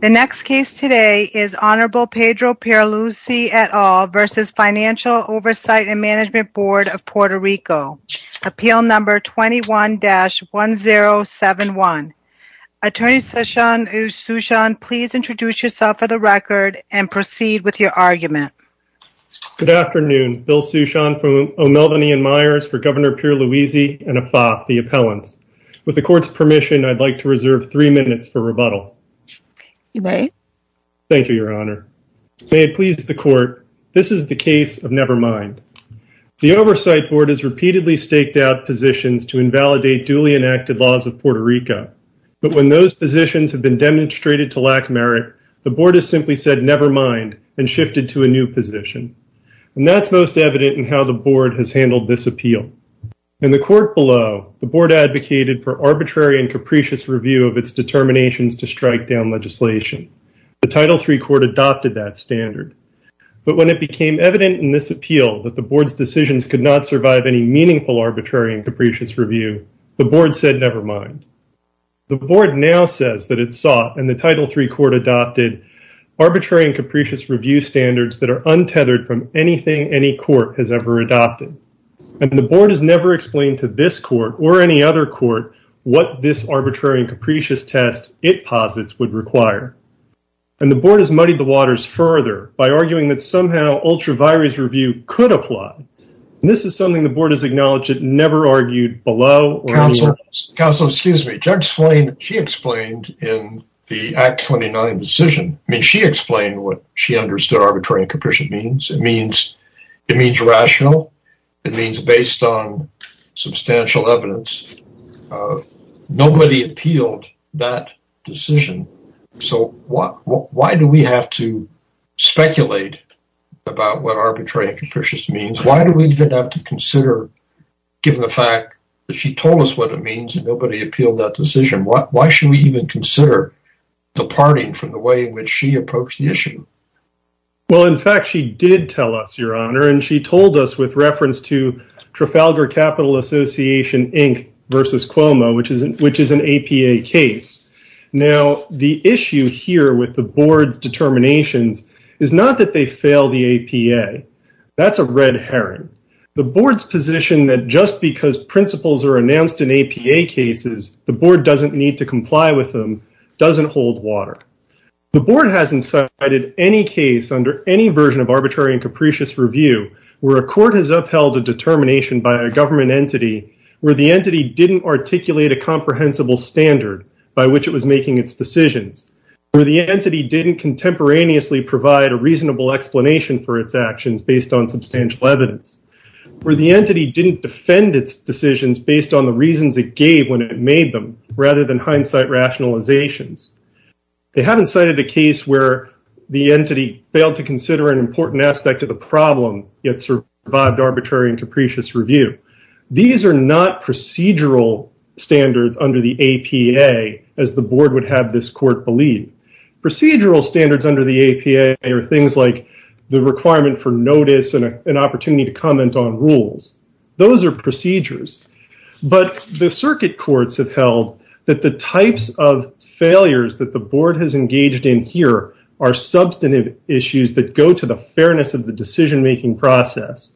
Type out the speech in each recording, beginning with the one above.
The next case today is Honorable Pedro Pierluisi et al. versus Financial Oversight and Management Board of Puerto Rico Appeal number 21-1071 Attorney Sushant, please introduce yourself for the record and proceed with your argument Good afternoon, Bill Sushant from O'Melveny & Myers for Governor Pierluisi and AFAP, the appellants. With the court's permission You may Thank you, Your Honor. May it please the court, this is the case of Nevermind The Oversight Board has repeatedly staked out positions to invalidate duly enacted laws of Puerto Rico But when those positions have been demonstrated to lack merit, the board has simply said Nevermind and shifted to a new position And that's most evident in how the board has handled this appeal. In the court below, the board advocated for arbitrary and capricious Review of its determinations to strike down legislation. The Title III court adopted that standard But when it became evident in this appeal that the board's decisions could not survive any meaningful arbitrary and capricious review, the board said Nevermind The board now says that it sought, and the Title III court adopted, Arbitrary and capricious review standards that are untethered from anything any court has ever adopted And the board has never explained to this court or any other court what this arbitrary and capricious test it posits would require And the board has muddied the waters further by arguing that somehow Ultra-virus review could apply. This is something the board has acknowledged it never argued below Counselor, excuse me, Judge Swain, she explained in the Act 29 decision I mean, she explained what she understood arbitrary and capricious means. It means It means rational, it means based on substantial evidence Nobody appealed that decision. So why do we have to Speculate about what arbitrary and capricious means? Why do we even have to consider Given the fact that she told us what it means and nobody appealed that decision. Why should we even consider Departing from the way in which she approached the issue? Well, in fact she did tell us your honor and she told us with reference to Trafalgar Capital Association Inc versus Cuomo, which is an APA case Now the issue here with the board's determinations is not that they fail the APA That's a red herring. The board's position that just because principles are announced in APA cases The board doesn't need to comply with them doesn't hold water The board hasn't cited any case under any version of arbitrary and capricious review where a court has upheld a Determination by a government entity where the entity didn't articulate a comprehensible standard by which it was making its decisions Where the entity didn't contemporaneously provide a reasonable explanation for its actions based on substantial evidence Where the entity didn't defend its decisions based on the reasons it gave when it made them rather than hindsight rationalizations They haven't cited a case where the entity failed to consider an important aspect of the problem yet survived arbitrary and capricious Review, these are not procedural Standards under the APA as the board would have this court believe Procedural standards under the APA are things like the requirement for notice and an opportunity to comment on rules Those are procedures but the circuit courts have held that the types of Failures that the board has engaged in here are substantive issues that go to the fairness of the decision-making process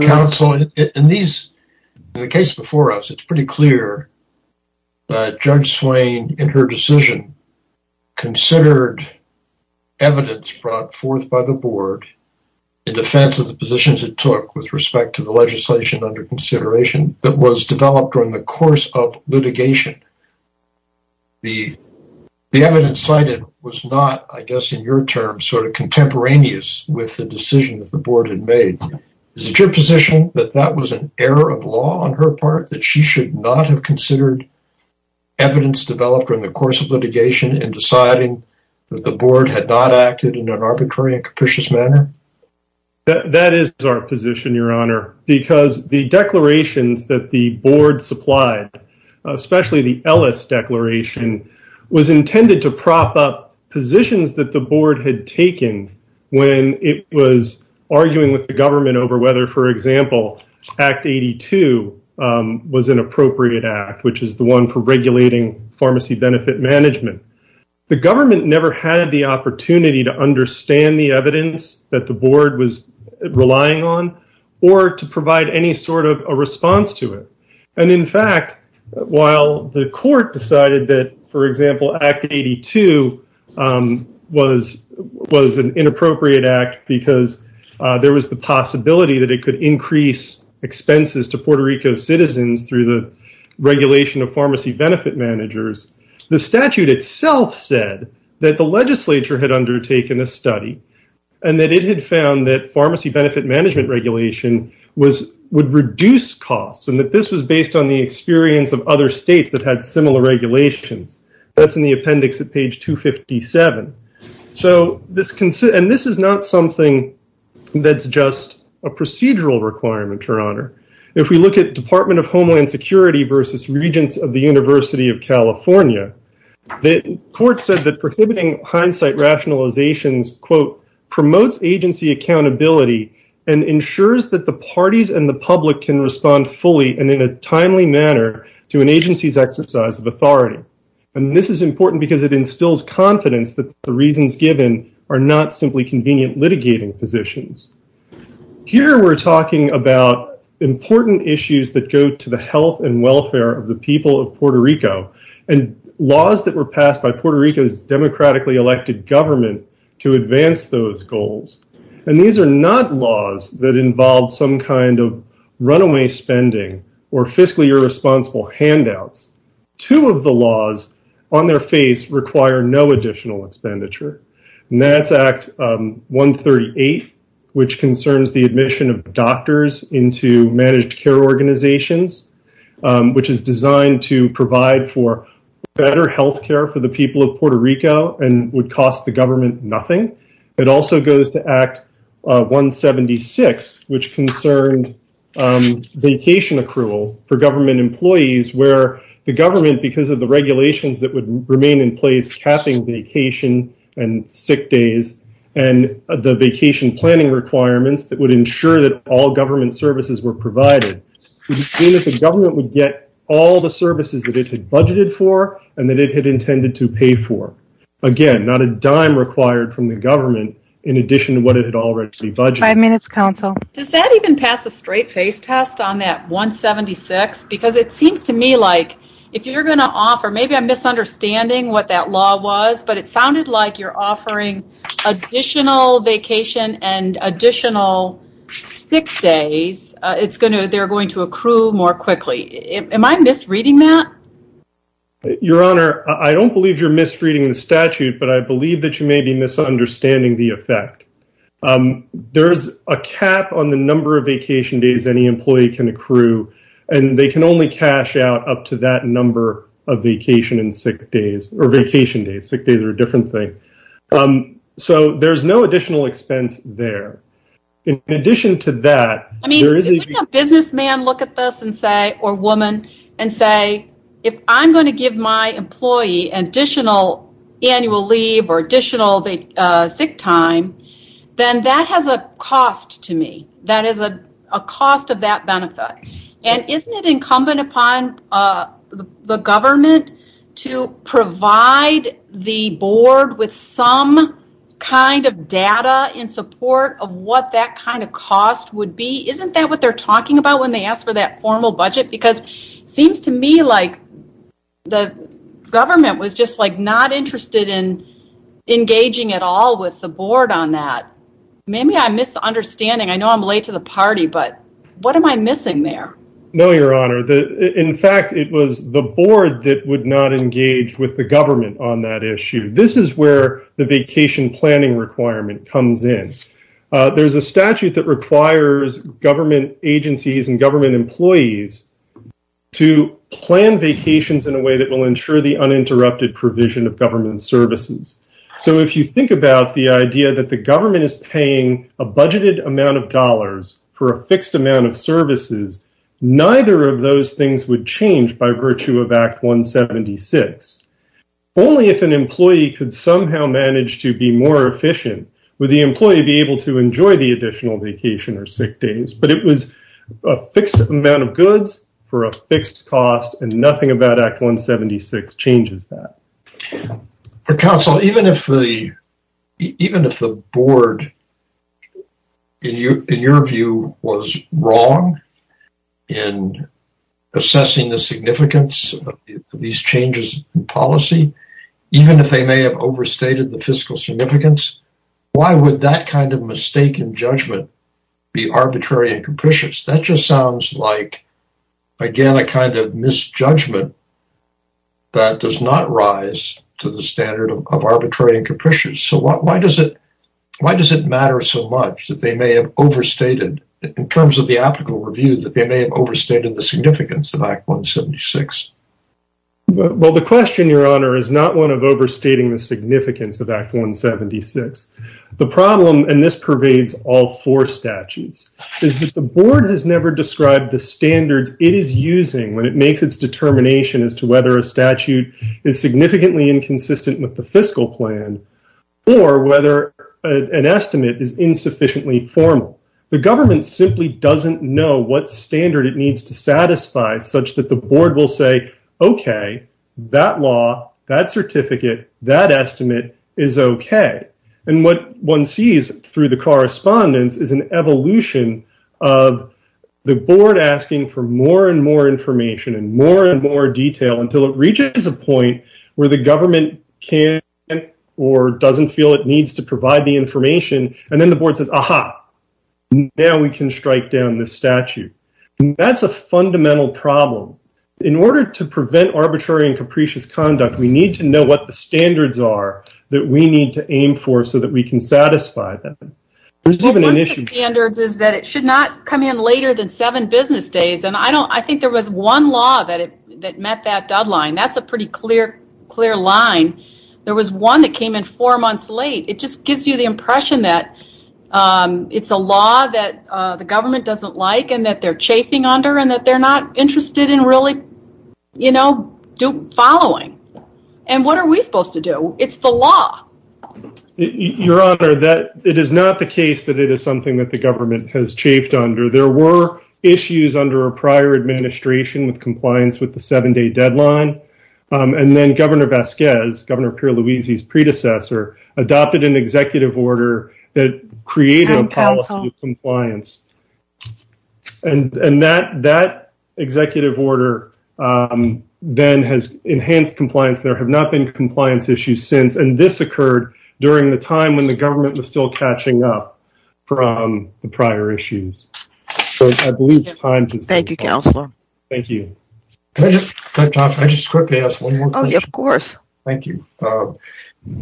Counseling in these in the case before us. It's pretty clear Judge Swain in her decision considered evidence brought forth by the board In defense of the positions it took with respect to the legislation under consideration that was developed during the course of litigation The The evidence cited was not I guess in your term sort of contemporaneous with the decision that the board had made Is it your position that that was an error of law on her part that she should not have considered? Evidence developed during the course of litigation and deciding that the board had not acted in an arbitrary and capricious manner That is our position your honor because the declarations that the board supplied Especially the Ellis declaration Was intended to prop up positions that the board had taken when it was Arguing with the government over whether for example Act 82 Was an appropriate act which is the one for regulating pharmacy benefit management the government never had the opportunity to understand the evidence that the board was While the court decided that for example act 82 Was was an inappropriate act because there was the possibility that it could increase expenses to Puerto Rico's citizens through the regulation of pharmacy benefit managers the statute itself said that the legislature had undertaken a study and That it had found that pharmacy benefit management Regulation was would reduce costs and that this was based on the experience of other states that had similar regulations That's in the appendix at page 257 So this can sit and this is not something That's just a procedural requirement her honor If we look at Department of Homeland Security versus regents of the University of California the court said that prohibiting hindsight rationalizations quote promotes agency accountability and ensures that the parties and the public can respond fully and in a timely manner to an agency's exercise of authority and This is important because it instills confidence that the reasons given are not simply convenient litigating positions Here we're talking about important issues that go to the health and welfare of the people of Puerto Rico and laws that were passed by Puerto Rico's Involved some kind of runaway spending or fiscally irresponsible handouts two of the laws on their face require no additional expenditure and that's act 138 which concerns the admission of doctors into managed care organizations Which is designed to provide for better health care for the people of Puerto Rico and would cost the government nothing It also goes to act 176 which concerned Vacation accrual for government employees where the government because of the regulations that would remain in place capping vacation and sick days and The vacation planning requirements that would ensure that all government services were provided Even if the government would get all the services that it had budgeted for and that it had intended to pay for Again, not a dime required from the government in addition to what it had already budgeted minutes council Does that even pass a straight-faced test on that? 176 because it seems to me like if you're gonna offer maybe I'm misunderstanding what that law was, but it sounded like you're offering additional vacation and additional Sick days, it's gonna they're going to accrue more quickly. Am I misreading that? Your honor, I don't believe you're misreading the statute, but I believe that you may be misunderstanding the effect There's a cap on the number of vacation days Any employee can accrue and they can only cash out up to that number of vacation and sick days or vacation days Sick days are a different thing So there's no additional expense there in addition to that, I mean businessman look at this and say or woman and say I'm going to give my employee an additional annual leave or additional the sick time Then that has a cost to me. That is a cost of that benefit and isn't it incumbent upon? the government to provide the board with some kind of data in support of what that kind of cost would be isn't that what they're talking about when they ask for that formal budget because seems to me like the Government was just like not interested in Engaging at all with the board on that. Maybe I'm misunderstanding. I know I'm late to the party But what am I missing there? No, your honor the in fact It was the board that would not engage with the government on that issue This is where the vacation planning requirement comes in There's a statute that requires Government agencies and government employees To plan vacations in a way that will ensure the uninterrupted provision of government services So if you think about the idea that the government is paying a budgeted amount of dollars for a fixed amount of services Neither of those things would change by virtue of Act 176 Only if an employee could somehow manage to be more efficient with the employee be able to enjoy the additional vacation or sick day But it was a fixed amount of goods for a fixed cost and nothing about Act 176 changes that for counsel, even if the even if the board In your view was wrong in Assessing the significance These changes in policy even if they may have overstated the fiscal significance Why would that kind of mistaken judgment be arbitrary and capricious that just sounds like Again, a kind of misjudgment That does not rise to the standard of arbitrary and capricious So what why does it? Why does it matter so much that they may have? Overstated in terms of the applicable review that they may have overstated the significance of Act 176 Well, the question your honor is not one of overstating the significance of Act 176 the problem and this pervades all four statutes Is that the board has never described the standards it is using when it makes its determination as to whether a statute is significantly inconsistent with the fiscal plan or whether an estimate is insufficiently formal The government simply doesn't know what standard it needs to satisfy such that the board will say Okay, that law that certificate that estimate is okay, and what one sees through the correspondence is an evolution of The board asking for more and more information and more and more detail until it reaches a point where the government can Or doesn't feel it needs to provide the information and then the board says aha Now we can strike down this statute That's a fundamental problem in order to prevent arbitrary and capricious conduct We need to know what the standards are that we need to aim for so that we can satisfy them Standards is that it should not come in later than seven business days And I don't I think there was one law that it that met that deadline. That's a pretty clear clear line There was one that came in four months late. It just gives you the impression that It's a law that the government doesn't like and that they're chafing under and that they're not interested in really You know do following and what are we supposed to do? It's the law Your honor that it is not the case that it is something that the government has chafed under there were Issues under a prior administration with compliance with the seven-day deadline And then governor Vasquez governor Pierluisi's predecessor adopted an executive order that created a policy compliance and and that that executive order Then has enhanced compliance There have not been compliance issues since and this occurred during the time when the government was still catching up from the prior issues Thank you, thank you Of course, thank you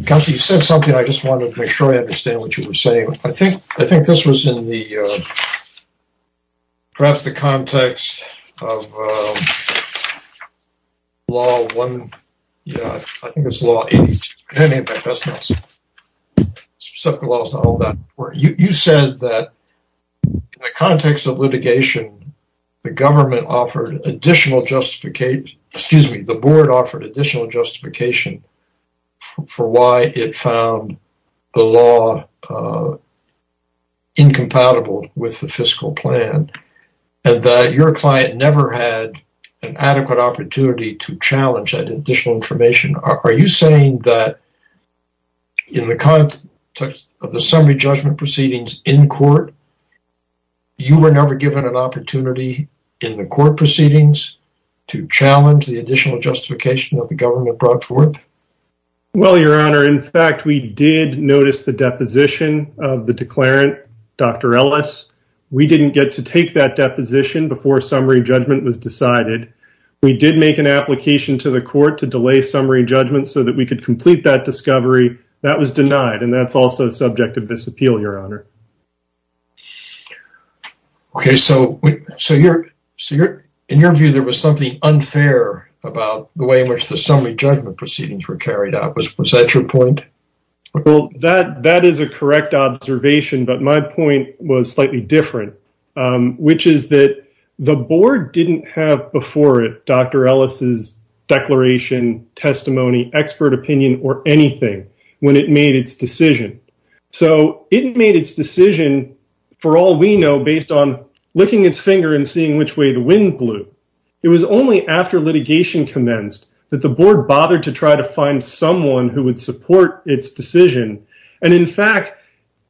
County said something. I just wanted to make sure I understand what you were saying. I think I think this was in the Perhaps the context the context of litigation The government offered additional justification, excuse me, the board offered additional justification For why it found the law Incompatible with the fiscal plan and that your client never had an adequate opportunity to challenge that additional information are you saying that In the context of the summary judgment proceedings in court You were never given an opportunity in the court proceedings to challenge the additional justification of the government brought forth Well, your honor. In fact, we did notice the deposition of the declarant. Dr. Ellis We didn't get to take that deposition before summary judgment was decided We did make an application to the court to delay summary judgment so that we could complete that discovery That was denied and that's also subject of this appeal your honor Okay, so so you're so you're in your view There was something unfair about the way in which the summary judgment proceedings were carried out was was that your point? Well that that is a correct observation, but my point was slightly different Which is that the board didn't have before it. Dr. Ellis's Declaration testimony expert opinion or anything when it made its decision So it made its decision For all we know based on licking its finger and seeing which way the wind blew It was only after litigation commenced that the board bothered to try to find someone who would support its decision And in fact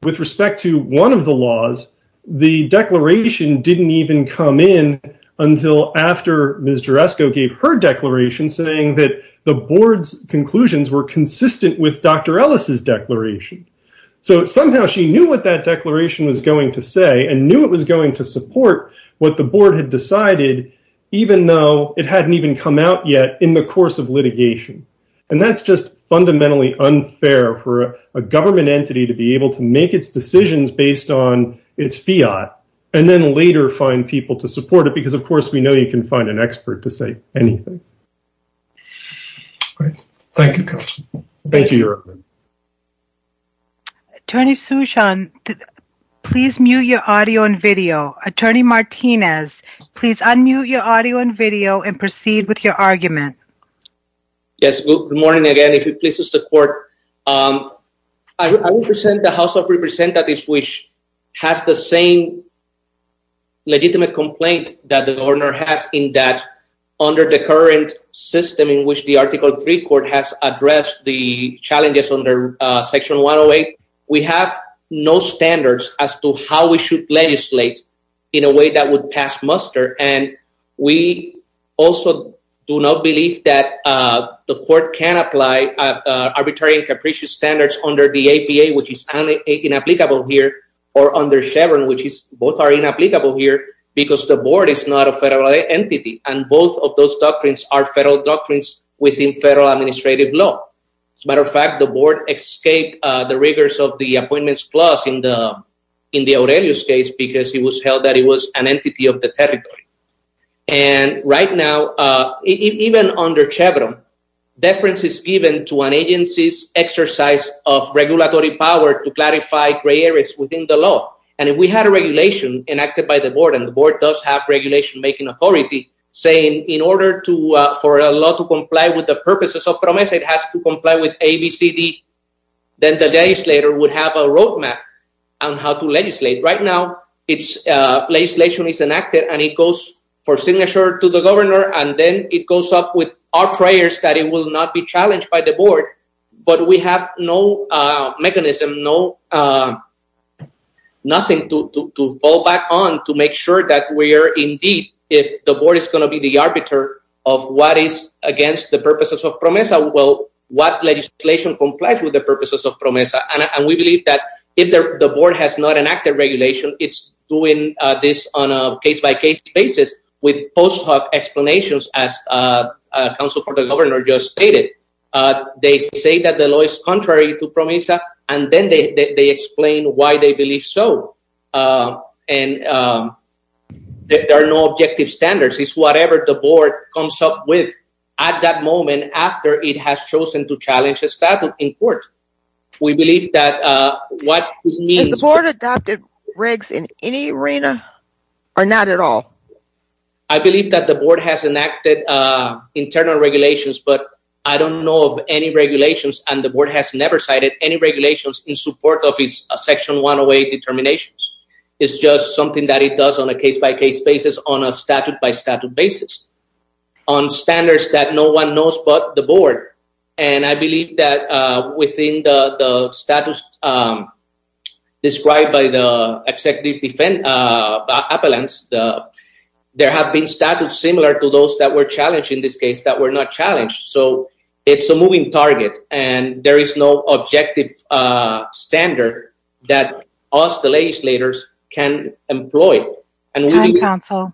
with respect to one of the laws the declaration didn't even come in Until after mr Esco gave her declaration saying that the board's conclusions were consistent with dr. Ellis's declaration So somehow she knew what that declaration was going to say and knew it was going to support what the board had decided even though it hadn't even come out yet in the course of litigation and that's just fundamentally unfair for a government entity to be able to make its decisions based on its Fiat and Then later find people to support it because of course, we know you can find an expert to say anything Thank you, thank you your Attorney Sushant Please mute your audio and video attorney Martinez, please. Unmute your audio and video and proceed with your argument Yes, good morning. Again, if it pleases the court I Present the House of Representatives, which has the same Legitimate complaint that the governor has in that under the current system in which the article 3 court has addressed the challenges under Section 108 we have no standards as to how we should legislate in a way that would pass muster and we also do not believe that the court can apply Arbitrary and capricious standards under the APA which is an inapplicable here or under Chevron Which is both are inapplicable here because the board is not a federal entity and both of those doctrines are federal doctrines Within federal administrative law as a matter of fact the board escaped the rigors of the appointments clause in the in the Aurelius case because he was held that he was an entity of the territory and right now even under Chevron Deference is given to an agency's exercise of regulatory power to clarify gray areas within the law And if we had a regulation enacted by the board and the board does have regulation making authority Saying in order to for a lot to comply with the purposes of promise it has to comply with ABCD Then the days later would have a road map on how to legislate right now It's a place legion is enacted and it goes for signature to the governor And then it goes up with our prayers that it will not be challenged by the board, but we have no mechanism, no Nothing to fall back on to make sure that we are indeed if the board is going to be the arbiter of what is Against the purposes of promise I will what legislation complies with the purposes of promise and we believe that if the board has not enacted regulation it's doing this on a case-by-case basis with post hoc explanations as Council for the governor just stated They say that the law is contrary to promise and then they explain why they believe so and That there are no objective standards It's whatever the board comes up with at that moment after it has chosen to challenge a statute in court We believe that what needs the board adopted regs in any arena or not at all. I Believe that the board has enacted Internal regulations But I don't know of any regulations and the board has never cited any regulations in support of his section 108 determinations, it's just something that it does on a case-by-case basis on a statute by statute basis on Standards that no one knows but the board and I believe that within the status Described by the executive defend appellants There have been statute similar to those that were challenged in this case that were not challenged So it's a moving target and there is no objective Standard that us the legislators can employ and we counsel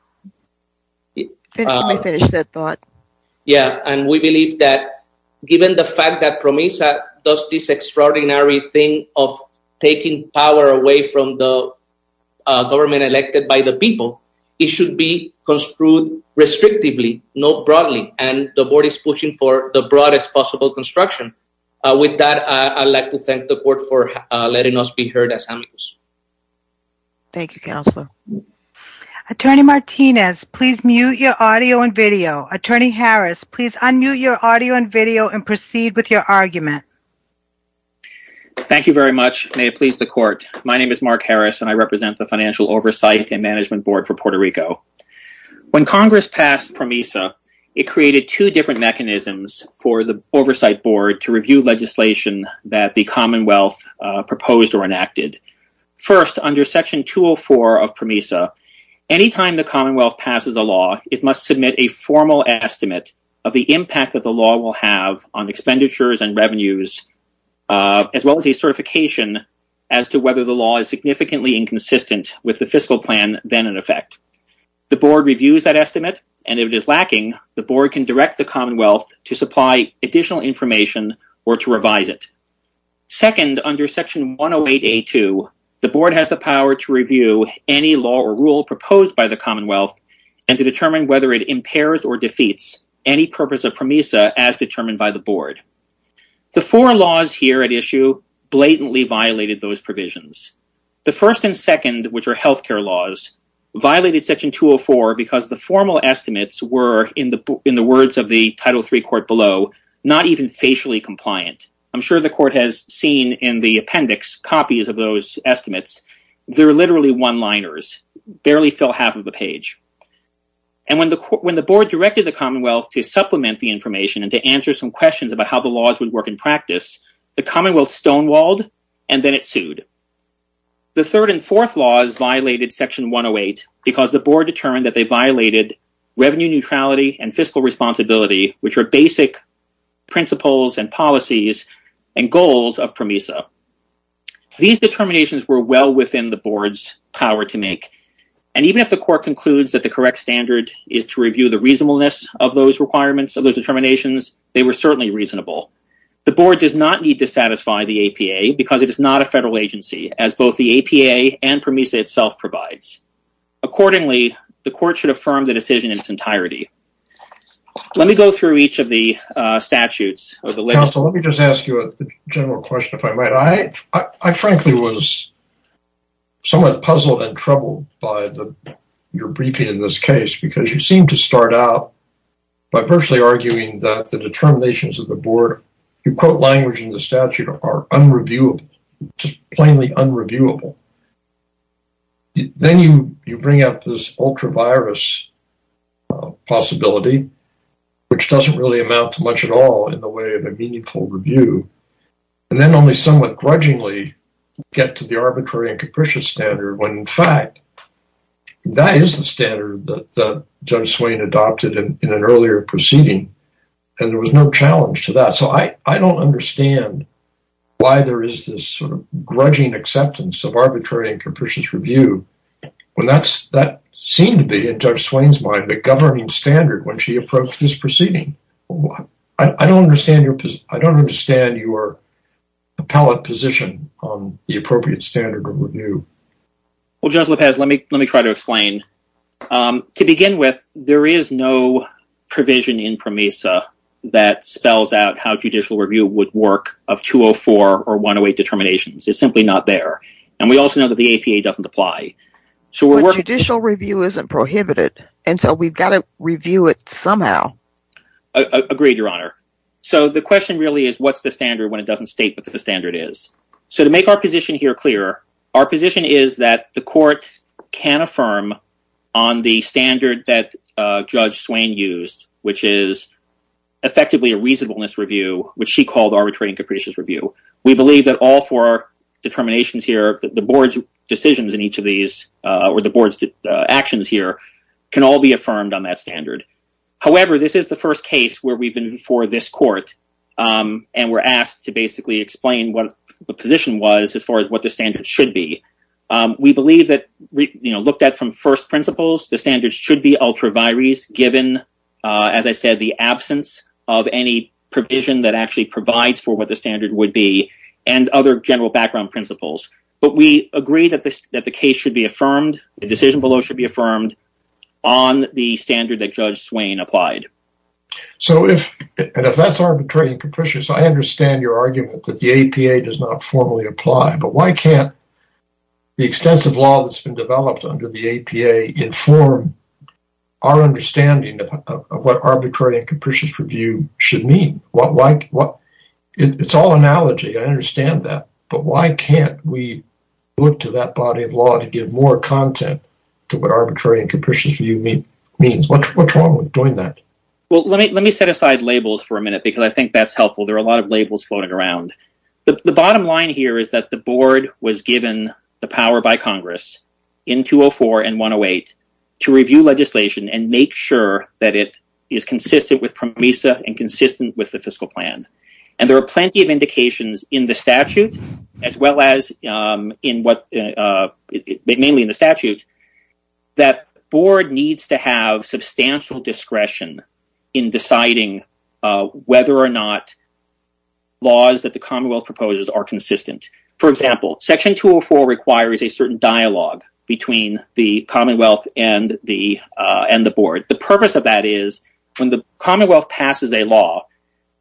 Yeah, and we believe that given the fact that promise that does this extraordinary thing of taking power away from the Government elected by the people it should be construed Restrictively no broadly and the board is pushing for the broadest possible construction with that I'd like to thank the court for letting us be heard as amicus Thank You counsel Attorney Martinez, please mute your audio and video attorney Harris, please. Unmute your audio and video and proceed with your argument Thank you very much, may it please the court My name is Mark Harris and I represent the Financial Oversight and Management Board for Puerto Rico When Congress passed promisa, it created two different mechanisms for the Oversight Board to review legislation that the Commonwealth proposed or enacted first under section 204 of promisa Anytime the Commonwealth passes a law it must submit a formal estimate of the impact that the law will have on expenditures and revenues As well as a certification as to whether the law is significantly inconsistent with the fiscal plan then in effect The board reviews that estimate and if it is lacking the board can direct the Commonwealth to supply additional information or to revise it second under section 108 a to the board has the power to review any law or rule proposed by the Commonwealth and to determine whether it impairs or defeats any purpose of promisa as determined by the board The four laws here at issue blatantly violated those provisions the first and second which are health care laws Violated section 204 because the formal estimates were in the in the words of the title three court below not even facially compliant I'm sure the court has seen in the appendix copies of those estimates. They're literally one-liners barely fill half of the page and When the board directed the Commonwealth to supplement the information and to answer some questions about how the laws would work in practice The Commonwealth stonewalled and then it sued The third and fourth laws violated section 108 because the board determined that they violated revenue neutrality and fiscal responsibility Which are basic principles and policies and goals of promisa These determinations were well within the board's power to make and Even if the court concludes that the correct standard is to review the reasonableness of those requirements of those determinations They were certainly reasonable The board does not need to satisfy the APA because it is not a federal agency as both the APA and promisa itself provides Accordingly, the court should affirm the decision in its entirety Let me go through each of the Frankly was somewhat puzzled and troubled by the Your briefing in this case because you seem to start out By personally arguing that the determinations of the board you quote language in the statute are unreviewable plainly unreviewable Then you you bring up this ultra virus Possibility Which doesn't really amount to much at all in the way of a meaningful review And then only somewhat grudgingly get to the arbitrary and capricious standard when in fact That is the standard that the judge Swain adopted in an earlier proceeding and there was no challenge to that So I I don't understand Why there is this sort of grudging acceptance of arbitrary and capricious review? When that's that seemed to be in judge Swain's mind the governing standard when she approached this proceeding What I don't understand your I don't understand you were a pallet position on the appropriate standard of review Well judge Lopez, let me let me try to explain To begin with there is no provision in promesa that Spells out how judicial review would work of 204 or 108 determinations It's simply not there and we also know that the APA doesn't apply So we're working to show review isn't prohibited. And so we've got to review it somehow Agreed your honor. So the question really is what's the standard when it doesn't state? But the standard is so to make our position here clear our position is that the court can affirm on the standard that judge Swain used which is Effectively a reasonableness review which she called arbitrary and capricious review. We believe that all for our Determinations here the board's decisions in each of these or the board's actions here can all be affirmed on that standard However, this is the first case where we've been before this court And we're asked to basically explain what the position was as far as what the standard should be We believe that you know looked at from first principles. The standards should be ultra vires given As I said the absence of any provision that actually provides for what the standard would be and other general background principles But we agree that this that the case should be affirmed the decision below should be affirmed on The standard that judge Swain applied So if and if that's arbitrary and capricious, I understand your argument that the APA does not formally apply, but why can't The extensive law that's been developed under the APA inform Understanding of what arbitrary and capricious review should mean what like what it's all analogy I understand that but why can't we look to that body of law to give more content to what arbitrary and capricious review mean What's wrong with doing that? Well, let me let me set aside labels for a minute because I think that's helpful There are a lot of labels floating around the bottom line here Is that the board was given the power by Congress in 204 and 108? to review legislation and make sure that it is Consistent with promisa and consistent with the fiscal plans and there are plenty of indications in the statute as well as in what? mainly in the statute That board needs to have substantial discretion in deciding whether or not Laws that the Commonwealth proposes are consistent for example section 204 requires a certain dialogue between the Commonwealth and the And the board the purpose of that is when the Commonwealth passes a law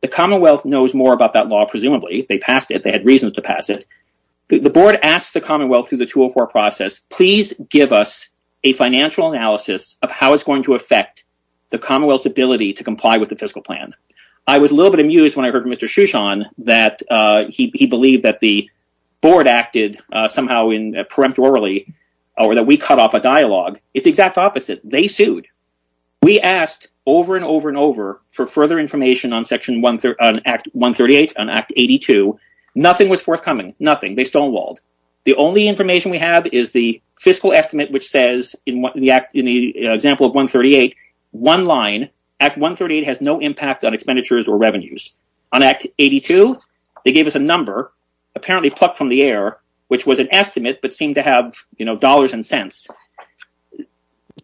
The Commonwealth knows more about that law presumably they passed it. They had reasons to pass it The board asked the Commonwealth through the 204 process Please give us a financial analysis of how it's going to affect the Commonwealth's ability to comply with the fiscal plan I was a little bit amused when I heard from Mr. Shushan that he believed that the Board acted somehow in a preemptorily or that we cut off a dialogue. It's the exact opposite. They sued We asked over and over and over for further information on section 138 on Act 82 Nothing was forthcoming nothing they stonewalled The only information we have is the fiscal estimate which says in what the act in the example of 138 One line at 138 has no impact on expenditures or revenues on Act 82 They gave us a number apparently plucked from the air, which was an estimate but seemed to have you know dollars and cents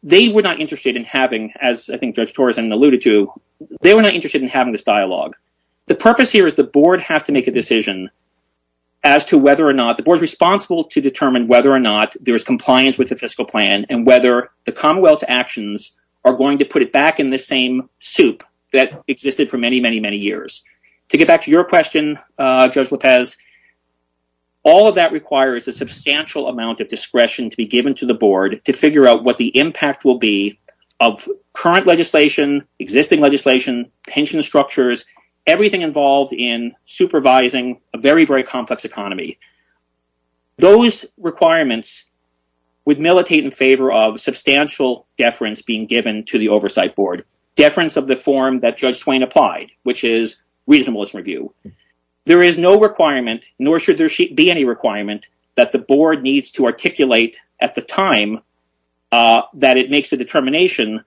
They were not interested in having as I think Judge Torres and alluded to They were not interested in having this dialogue the purpose here is the board has to make a decision as To whether or not the board's responsible to determine whether or not there is compliance with the fiscal plan and whether the Commonwealth's actions Are going to put it back in the same soup that existed for many many many years to get back to your question Judge Lopez all of that requires a substantial amount of discretion to be given to the board to figure out what the impact will be of Current legislation existing legislation pension structures everything involved in supervising a very very complex economy those requirements would militate in favor of Substantial deference being given to the oversight board deference of the form that Judge Swain applied which is reasonableness review There is no requirement nor should there be any requirement that the board needs to articulate at the time That it makes a determination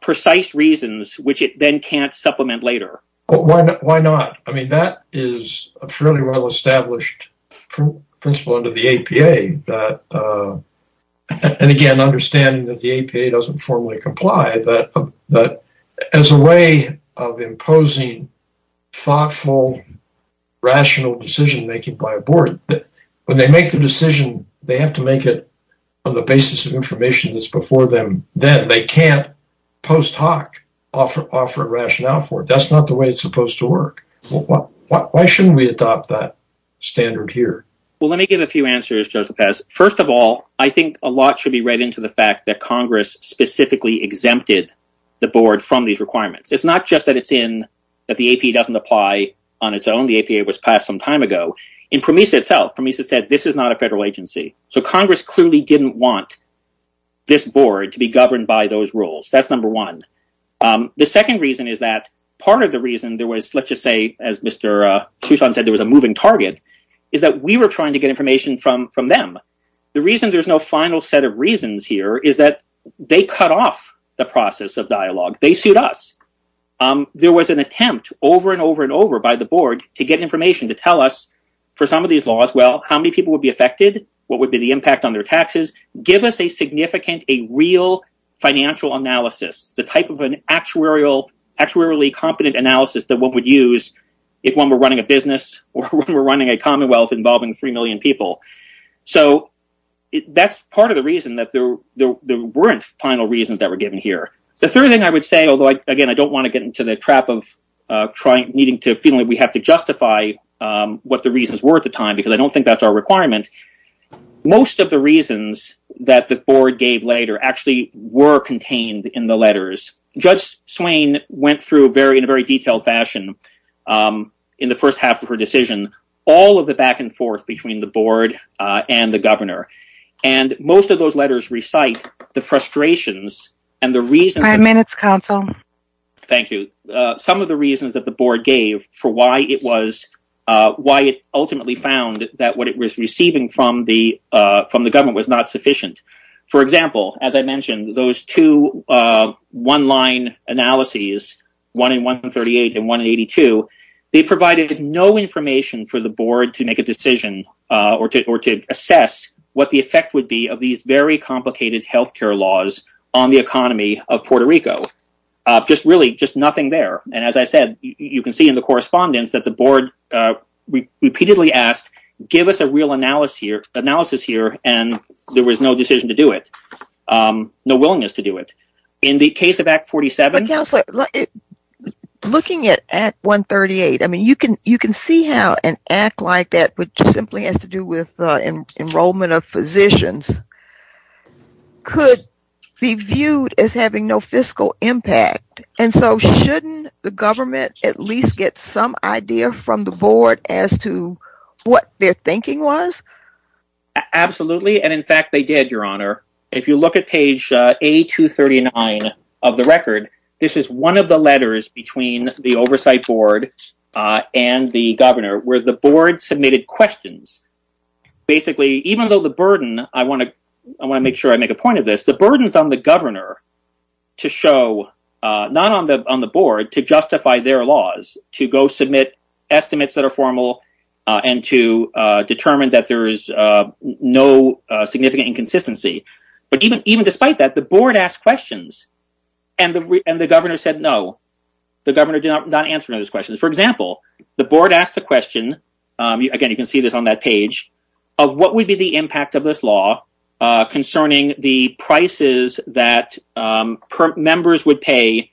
Precise reasons, which it then can't supplement later. Well, why not? Why not? I mean that is a fairly well-established Principle under the APA that And again understanding that the APA doesn't formally comply that but as a way of imposing thoughtful Rational decision-making by a board that when they make the decision they have to make it on the basis of information That's before them then they can't post hoc offer offer rationale for it. That's not the way it's supposed to work Why shouldn't we adopt that? Standard here. Well, let me give a few answers just the past First of all, I think a lot should be read into the fact that Congress specifically exempted the board from these requirements It's not just that it's in that the APA doesn't apply on its own The APA was passed some time ago in PROMESA itself. PROMESA said this is not a federal agency. So Congress clearly didn't want This board to be governed by those rules. That's number one The second reason is that part of the reason there was let's just say as mr Tucson said there was a moving target is that we were trying to get information from from them The reason there's no final set of reasons here. Is that they cut off the process of dialogue? They sued us There was an attempt over and over and over by the board to get information to tell us for some of these laws Well, how many people would be affected? What would be the impact on their taxes? Give us a significant a real financial analysis the type of an actuarial actuarially competent analysis that what would use if one were running a business or we're running a Commonwealth involving three million people so That's part of the reason that there there weren't final reasons that were given here The third thing I would say although I again, I don't want to get into the trap of Trying needing to feel like we have to justify What the reasons were at the time because I don't think that's our requirement Most of the reasons that the board gave later actually were contained in the letters Judge Swain went through a very in a very detailed fashion in the first half of her decision all of the back-and-forth between the board and the governor and Minutes council. Thank you. Some of the reasons that the board gave for why it was Why it ultimately found that what it was receiving from the from the government was not sufficient. For example, as I mentioned those two one-line analyses one in 138 and 182 They provided no information for the board to make a decision or to assess What the effect would be of these very complicated health care laws on the economy of Puerto Rico? Just really just nothing there. And as I said, you can see in the correspondence that the board Repeatedly asked give us a real analysis here analysis here, and there was no decision to do it No willingness to do it in the case of act 47 Looking at at 138 You can you can see how an act like that which simply has to do with the enrollment of physicians Could be viewed as having no fiscal impact And so shouldn't the government at least get some idea from the board as to what their thinking was? Absolutely, and in fact they did your honor if you look at page a 239 of the record This is one of the letters between the oversight board And the governor where the board submitted questions Basically, even though the burden I want to I want to make sure I make a point of this the burdens on the governor to show Not on the on the board to justify their laws to go submit estimates that are formal and to determine that there's no significant inconsistency, but even even despite that the board asked questions and The and the governor said no the governor did not answer those questions. For example The board asked the question Again, you can see this on that page of what would be the impact of this law? concerning the prices that Members would pay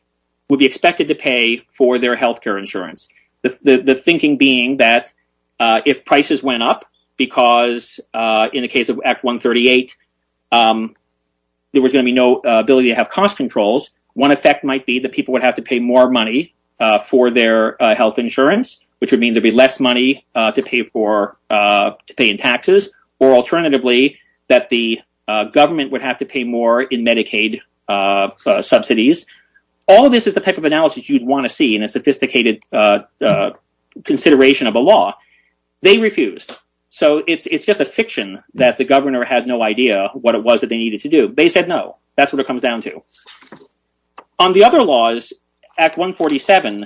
would be expected to pay for their health care insurance The the thinking being that if prices went up because in the case of act 138 There was gonna be no ability to have cost controls one effect might be that people would have to pay more money For their health insurance, which would mean there'd be less money to pay for To pay in taxes or alternatively that the government would have to pay more in Medicaid Subsidies. All of this is the type of analysis you'd want to see in a sophisticated Consideration of a law they refused So it's it's just a fiction that the governor had no idea what it was that they needed to do They said no, that's what it comes down to On the other laws at 147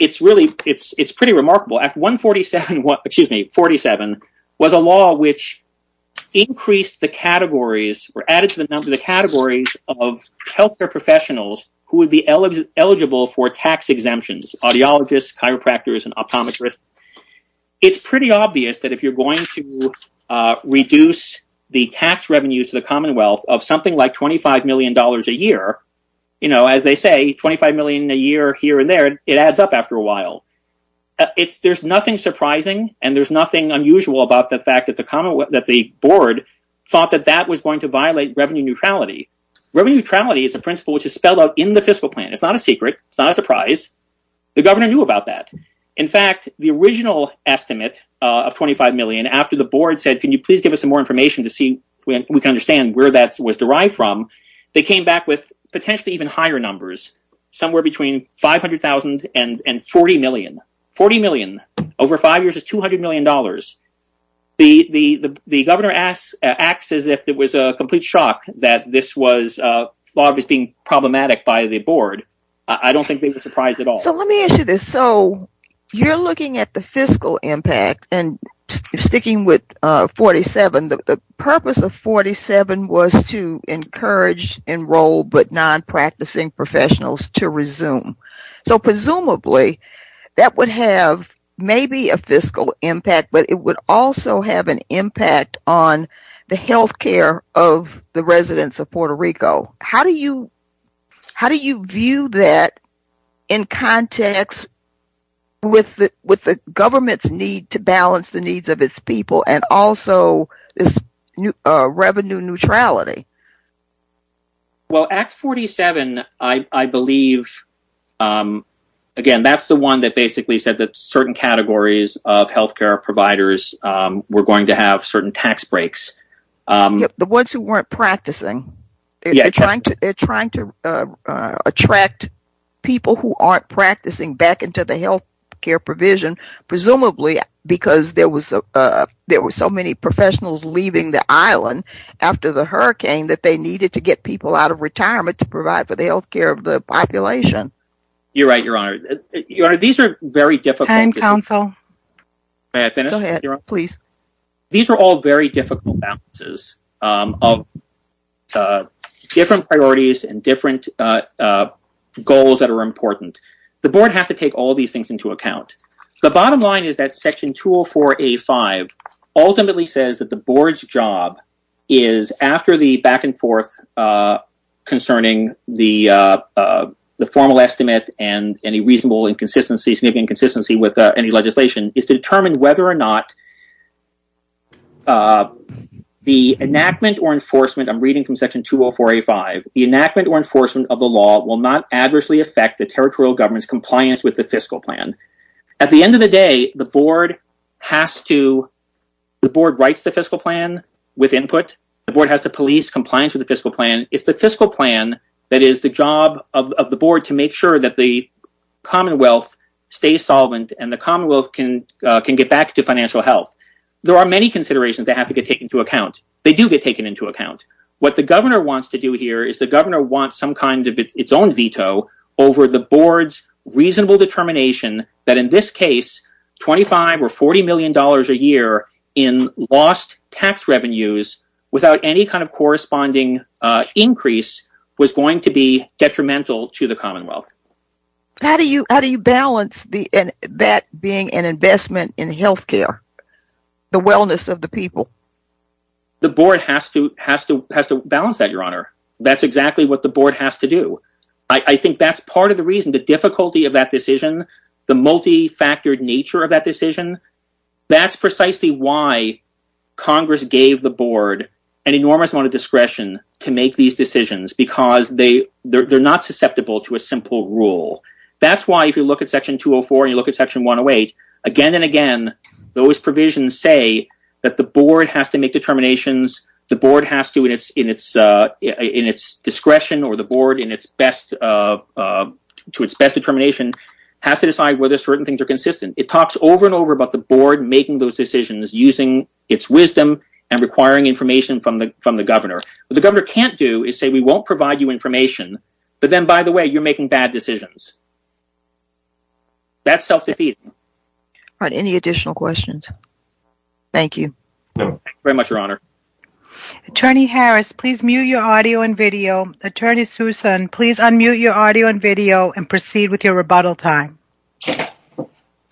It's really it's it's pretty remarkable at 147. What excuse me 47 was a law which increased the categories were added to the number the categories of Healthcare professionals who would be eligible for tax exemptions audiologists chiropractors and optometrists it's pretty obvious that if you're going to Reduce the tax revenues to the Commonwealth of something like 25 million dollars a year You know as they say 25 million a year here and there it adds up after a while It's there's nothing surprising and there's nothing unusual about the fact that the Commonwealth that the board Thought that that was going to violate revenue neutrality Revenue neutrality is a principle which is spelled out in the fiscal plan. It's not a secret It's not a surprise the governor knew about that In fact the original estimate of 25 million after the board said can you please give us some more information to see? We can understand where that was derived from they came back with potentially even higher numbers somewhere between 500,000 and and 40 million 40 million over five years of 200 million dollars the the the governor asks acts as if there was a complete shock that this was Logged as being problematic by the board. I don't think they were surprised at all. So let me issue this so you're looking at the fiscal impact and sticking with 47 the purpose of 47 was to encourage enrolled but non practicing professionals to resume so presumably That would have maybe a fiscal impact But it would also have an impact on the health care of the residents of Puerto Rico. How do you? How do you view that in? Context With the with the government's need to balance the needs of its people and also this new revenue neutrality Well act 47, I believe Again that's the one that basically said that certain categories of health care providers were going to have certain tax breaks the ones who weren't practicing trying to trying to Attract people who aren't practicing back into the health care provision presumably because there was a there were so many professionals leaving the island after the hurricane that they needed to get people out of Retirement to provide for the health care of the population You're right. Your honor. These are very difficult counsel Please these are all very difficult balances of Different priorities and different Goals that are important. The board has to take all these things into account. The bottom line is that section 204 a 5 Ultimately says that the board's job is after the back-and-forth concerning the The formal estimate and any reasonable inconsistencies maybe inconsistency with any legislation is to determine whether or not The Enactment or enforcement I'm reading from section 204 a 5 the enactment or enforcement of the law will not adversely affect the territorial government's compliance with the fiscal plan at the end of the day the board has to The board writes the fiscal plan with input the board has to police compliance with the fiscal plan it's the fiscal plan that is the job of the board to make sure that the Commonwealth stays solvent and the Commonwealth can can get back to financial health There are many considerations that have to get taken to account They do get taken into account what the governor wants to do here is the governor wants some kind of its own veto over the board's reasonable determination that in this case 25 or 40 million dollars a year in lost tax revenues without any kind of corresponding Increase was going to be detrimental to the Commonwealth How do you how do you balance the and that being an investment in health care the wellness of the people The board has to has to has to balance that your honor. That's exactly what the board has to do I think that's part of the reason the difficulty of that decision the multi-factored nature of that decision That's precisely why Congress gave the board an enormous amount of discretion to make these decisions because they They're not susceptible to a simple rule That's why if you look at section 204 and you look at section 108 again and again those provisions say that the board has to make determinations the board has to in its in its In its discretion or the board in its best To its best determination has to decide whether certain things are consistent It talks over and over about the board making those decisions using its wisdom and requiring information from the from the governor But the governor can't do is say we won't provide you information. But then by the way, you're making bad decisions That's self-defeating But any additional questions? Thank you Very much, Your Honor Attorney Harris, please mute your audio and video attorney Susan, please unmute your audio and video and proceed with your rebuttal time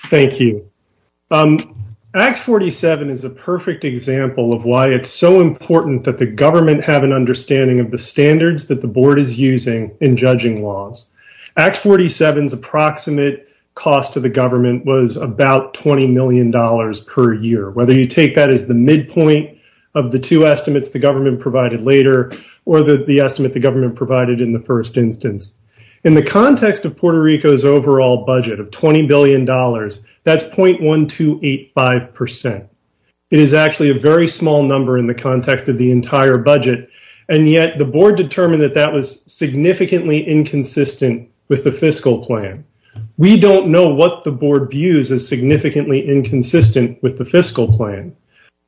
Thank you Act 47 is a perfect example of why it's so important that the government have an Understanding of the standards that the board is using in judging laws Act 47 is approximate cost to the government was about 20 million dollars per year whether you take that as the midpoint of the two estimates the government provided later or that the estimate the government provided in the First instance in the context of Puerto Rico's overall budget of 20 billion dollars That's point one two eight five percent it is actually a very small number in the context of the entire budget and yet the board determined that that was significantly Inconsistent with the fiscal plan. We don't know what the board views is significantly inconsistent with the fiscal plan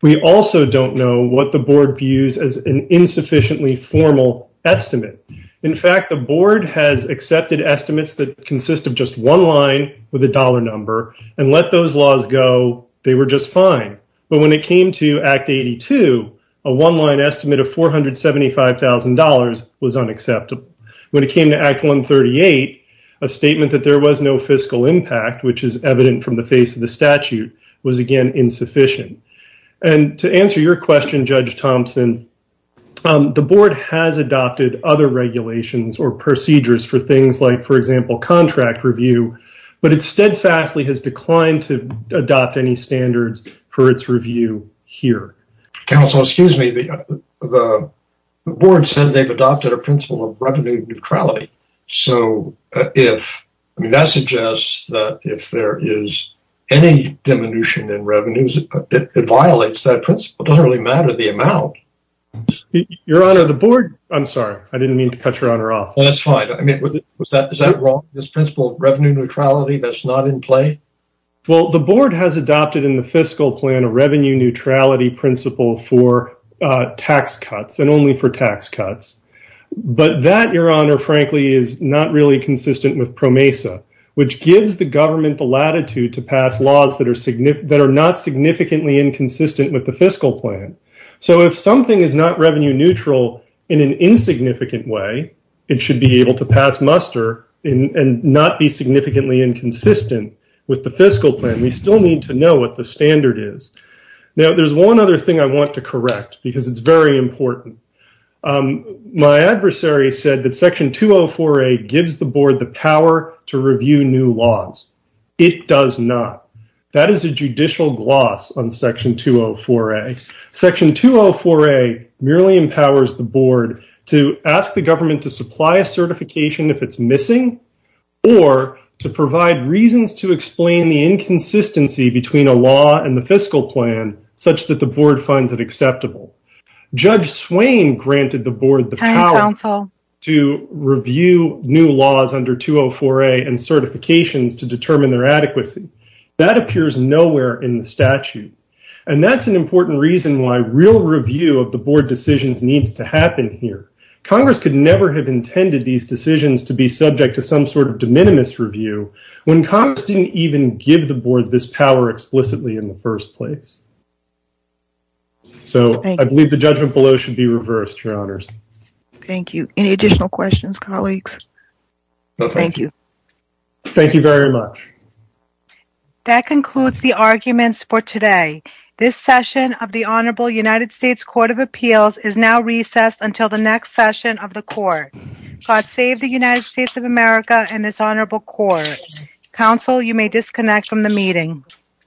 We also don't know what the board views as an insufficiently formal Estimate in fact, the board has accepted estimates that consist of just one line with a dollar number and let those laws go they were just fine, but when it came to Act 82 a one-line estimate of $475,000 was unacceptable when it came to Act 138 a statement that there was no fiscal impact Which is evident from the face of the statute was again insufficient and to answer your question judge Thompson The board has adopted other regulations or procedures for things like for example contract review But it steadfastly has declined to adopt any standards for its review here counsel, excuse me, the Board says they've adopted a principle of revenue neutrality So if I mean that suggests that if there is any Diminution in revenues it violates that principle doesn't really matter the amount Your honor the board. I'm sorry. I didn't mean to cut your honor off. That's fine I mean was that is that wrong this principle revenue neutrality? That's not in play Well, the board has adopted in the fiscal plan a revenue neutrality principle for Tax cuts and only for tax cuts But that your honor frankly is not really consistent with PRO Mesa Which gives the government the latitude to pass laws that are significant that are not significantly inconsistent with the fiscal plan So if something is not revenue neutral in an insignificant way It should be able to pass muster in and not be significantly inconsistent with the fiscal plan We still need to know what the standard is. Now. There's one other thing. I want to correct because it's very important My adversary said that section 204 a gives the board the power to review new laws It does not that is a judicial gloss on section 204 a section 204 a Merely empowers the board to ask the government to supply a certification if it's missing Or to provide reasons to explain the inconsistency between a law and the fiscal plan Such that the board finds it acceptable Judge Swain granted the board the power counsel to review new laws under 204 a and Certifications to determine their adequacy that appears nowhere in the statute And that's an important reason why real review of the board decisions needs to happen here Congress could never have intended these decisions to be subject to some sort of de minimis review When Congress didn't even give the board this power explicitly in the first place So, I believe the judgment below should be reversed your honors, thank you any additional questions colleagues Thank you Thank you very much That concludes the arguments for today This session of the Honorable United States Court of Appeals is now recessed until the next session of the court God save the United States of America and this honorable court Counsel you may disconnect from the meeting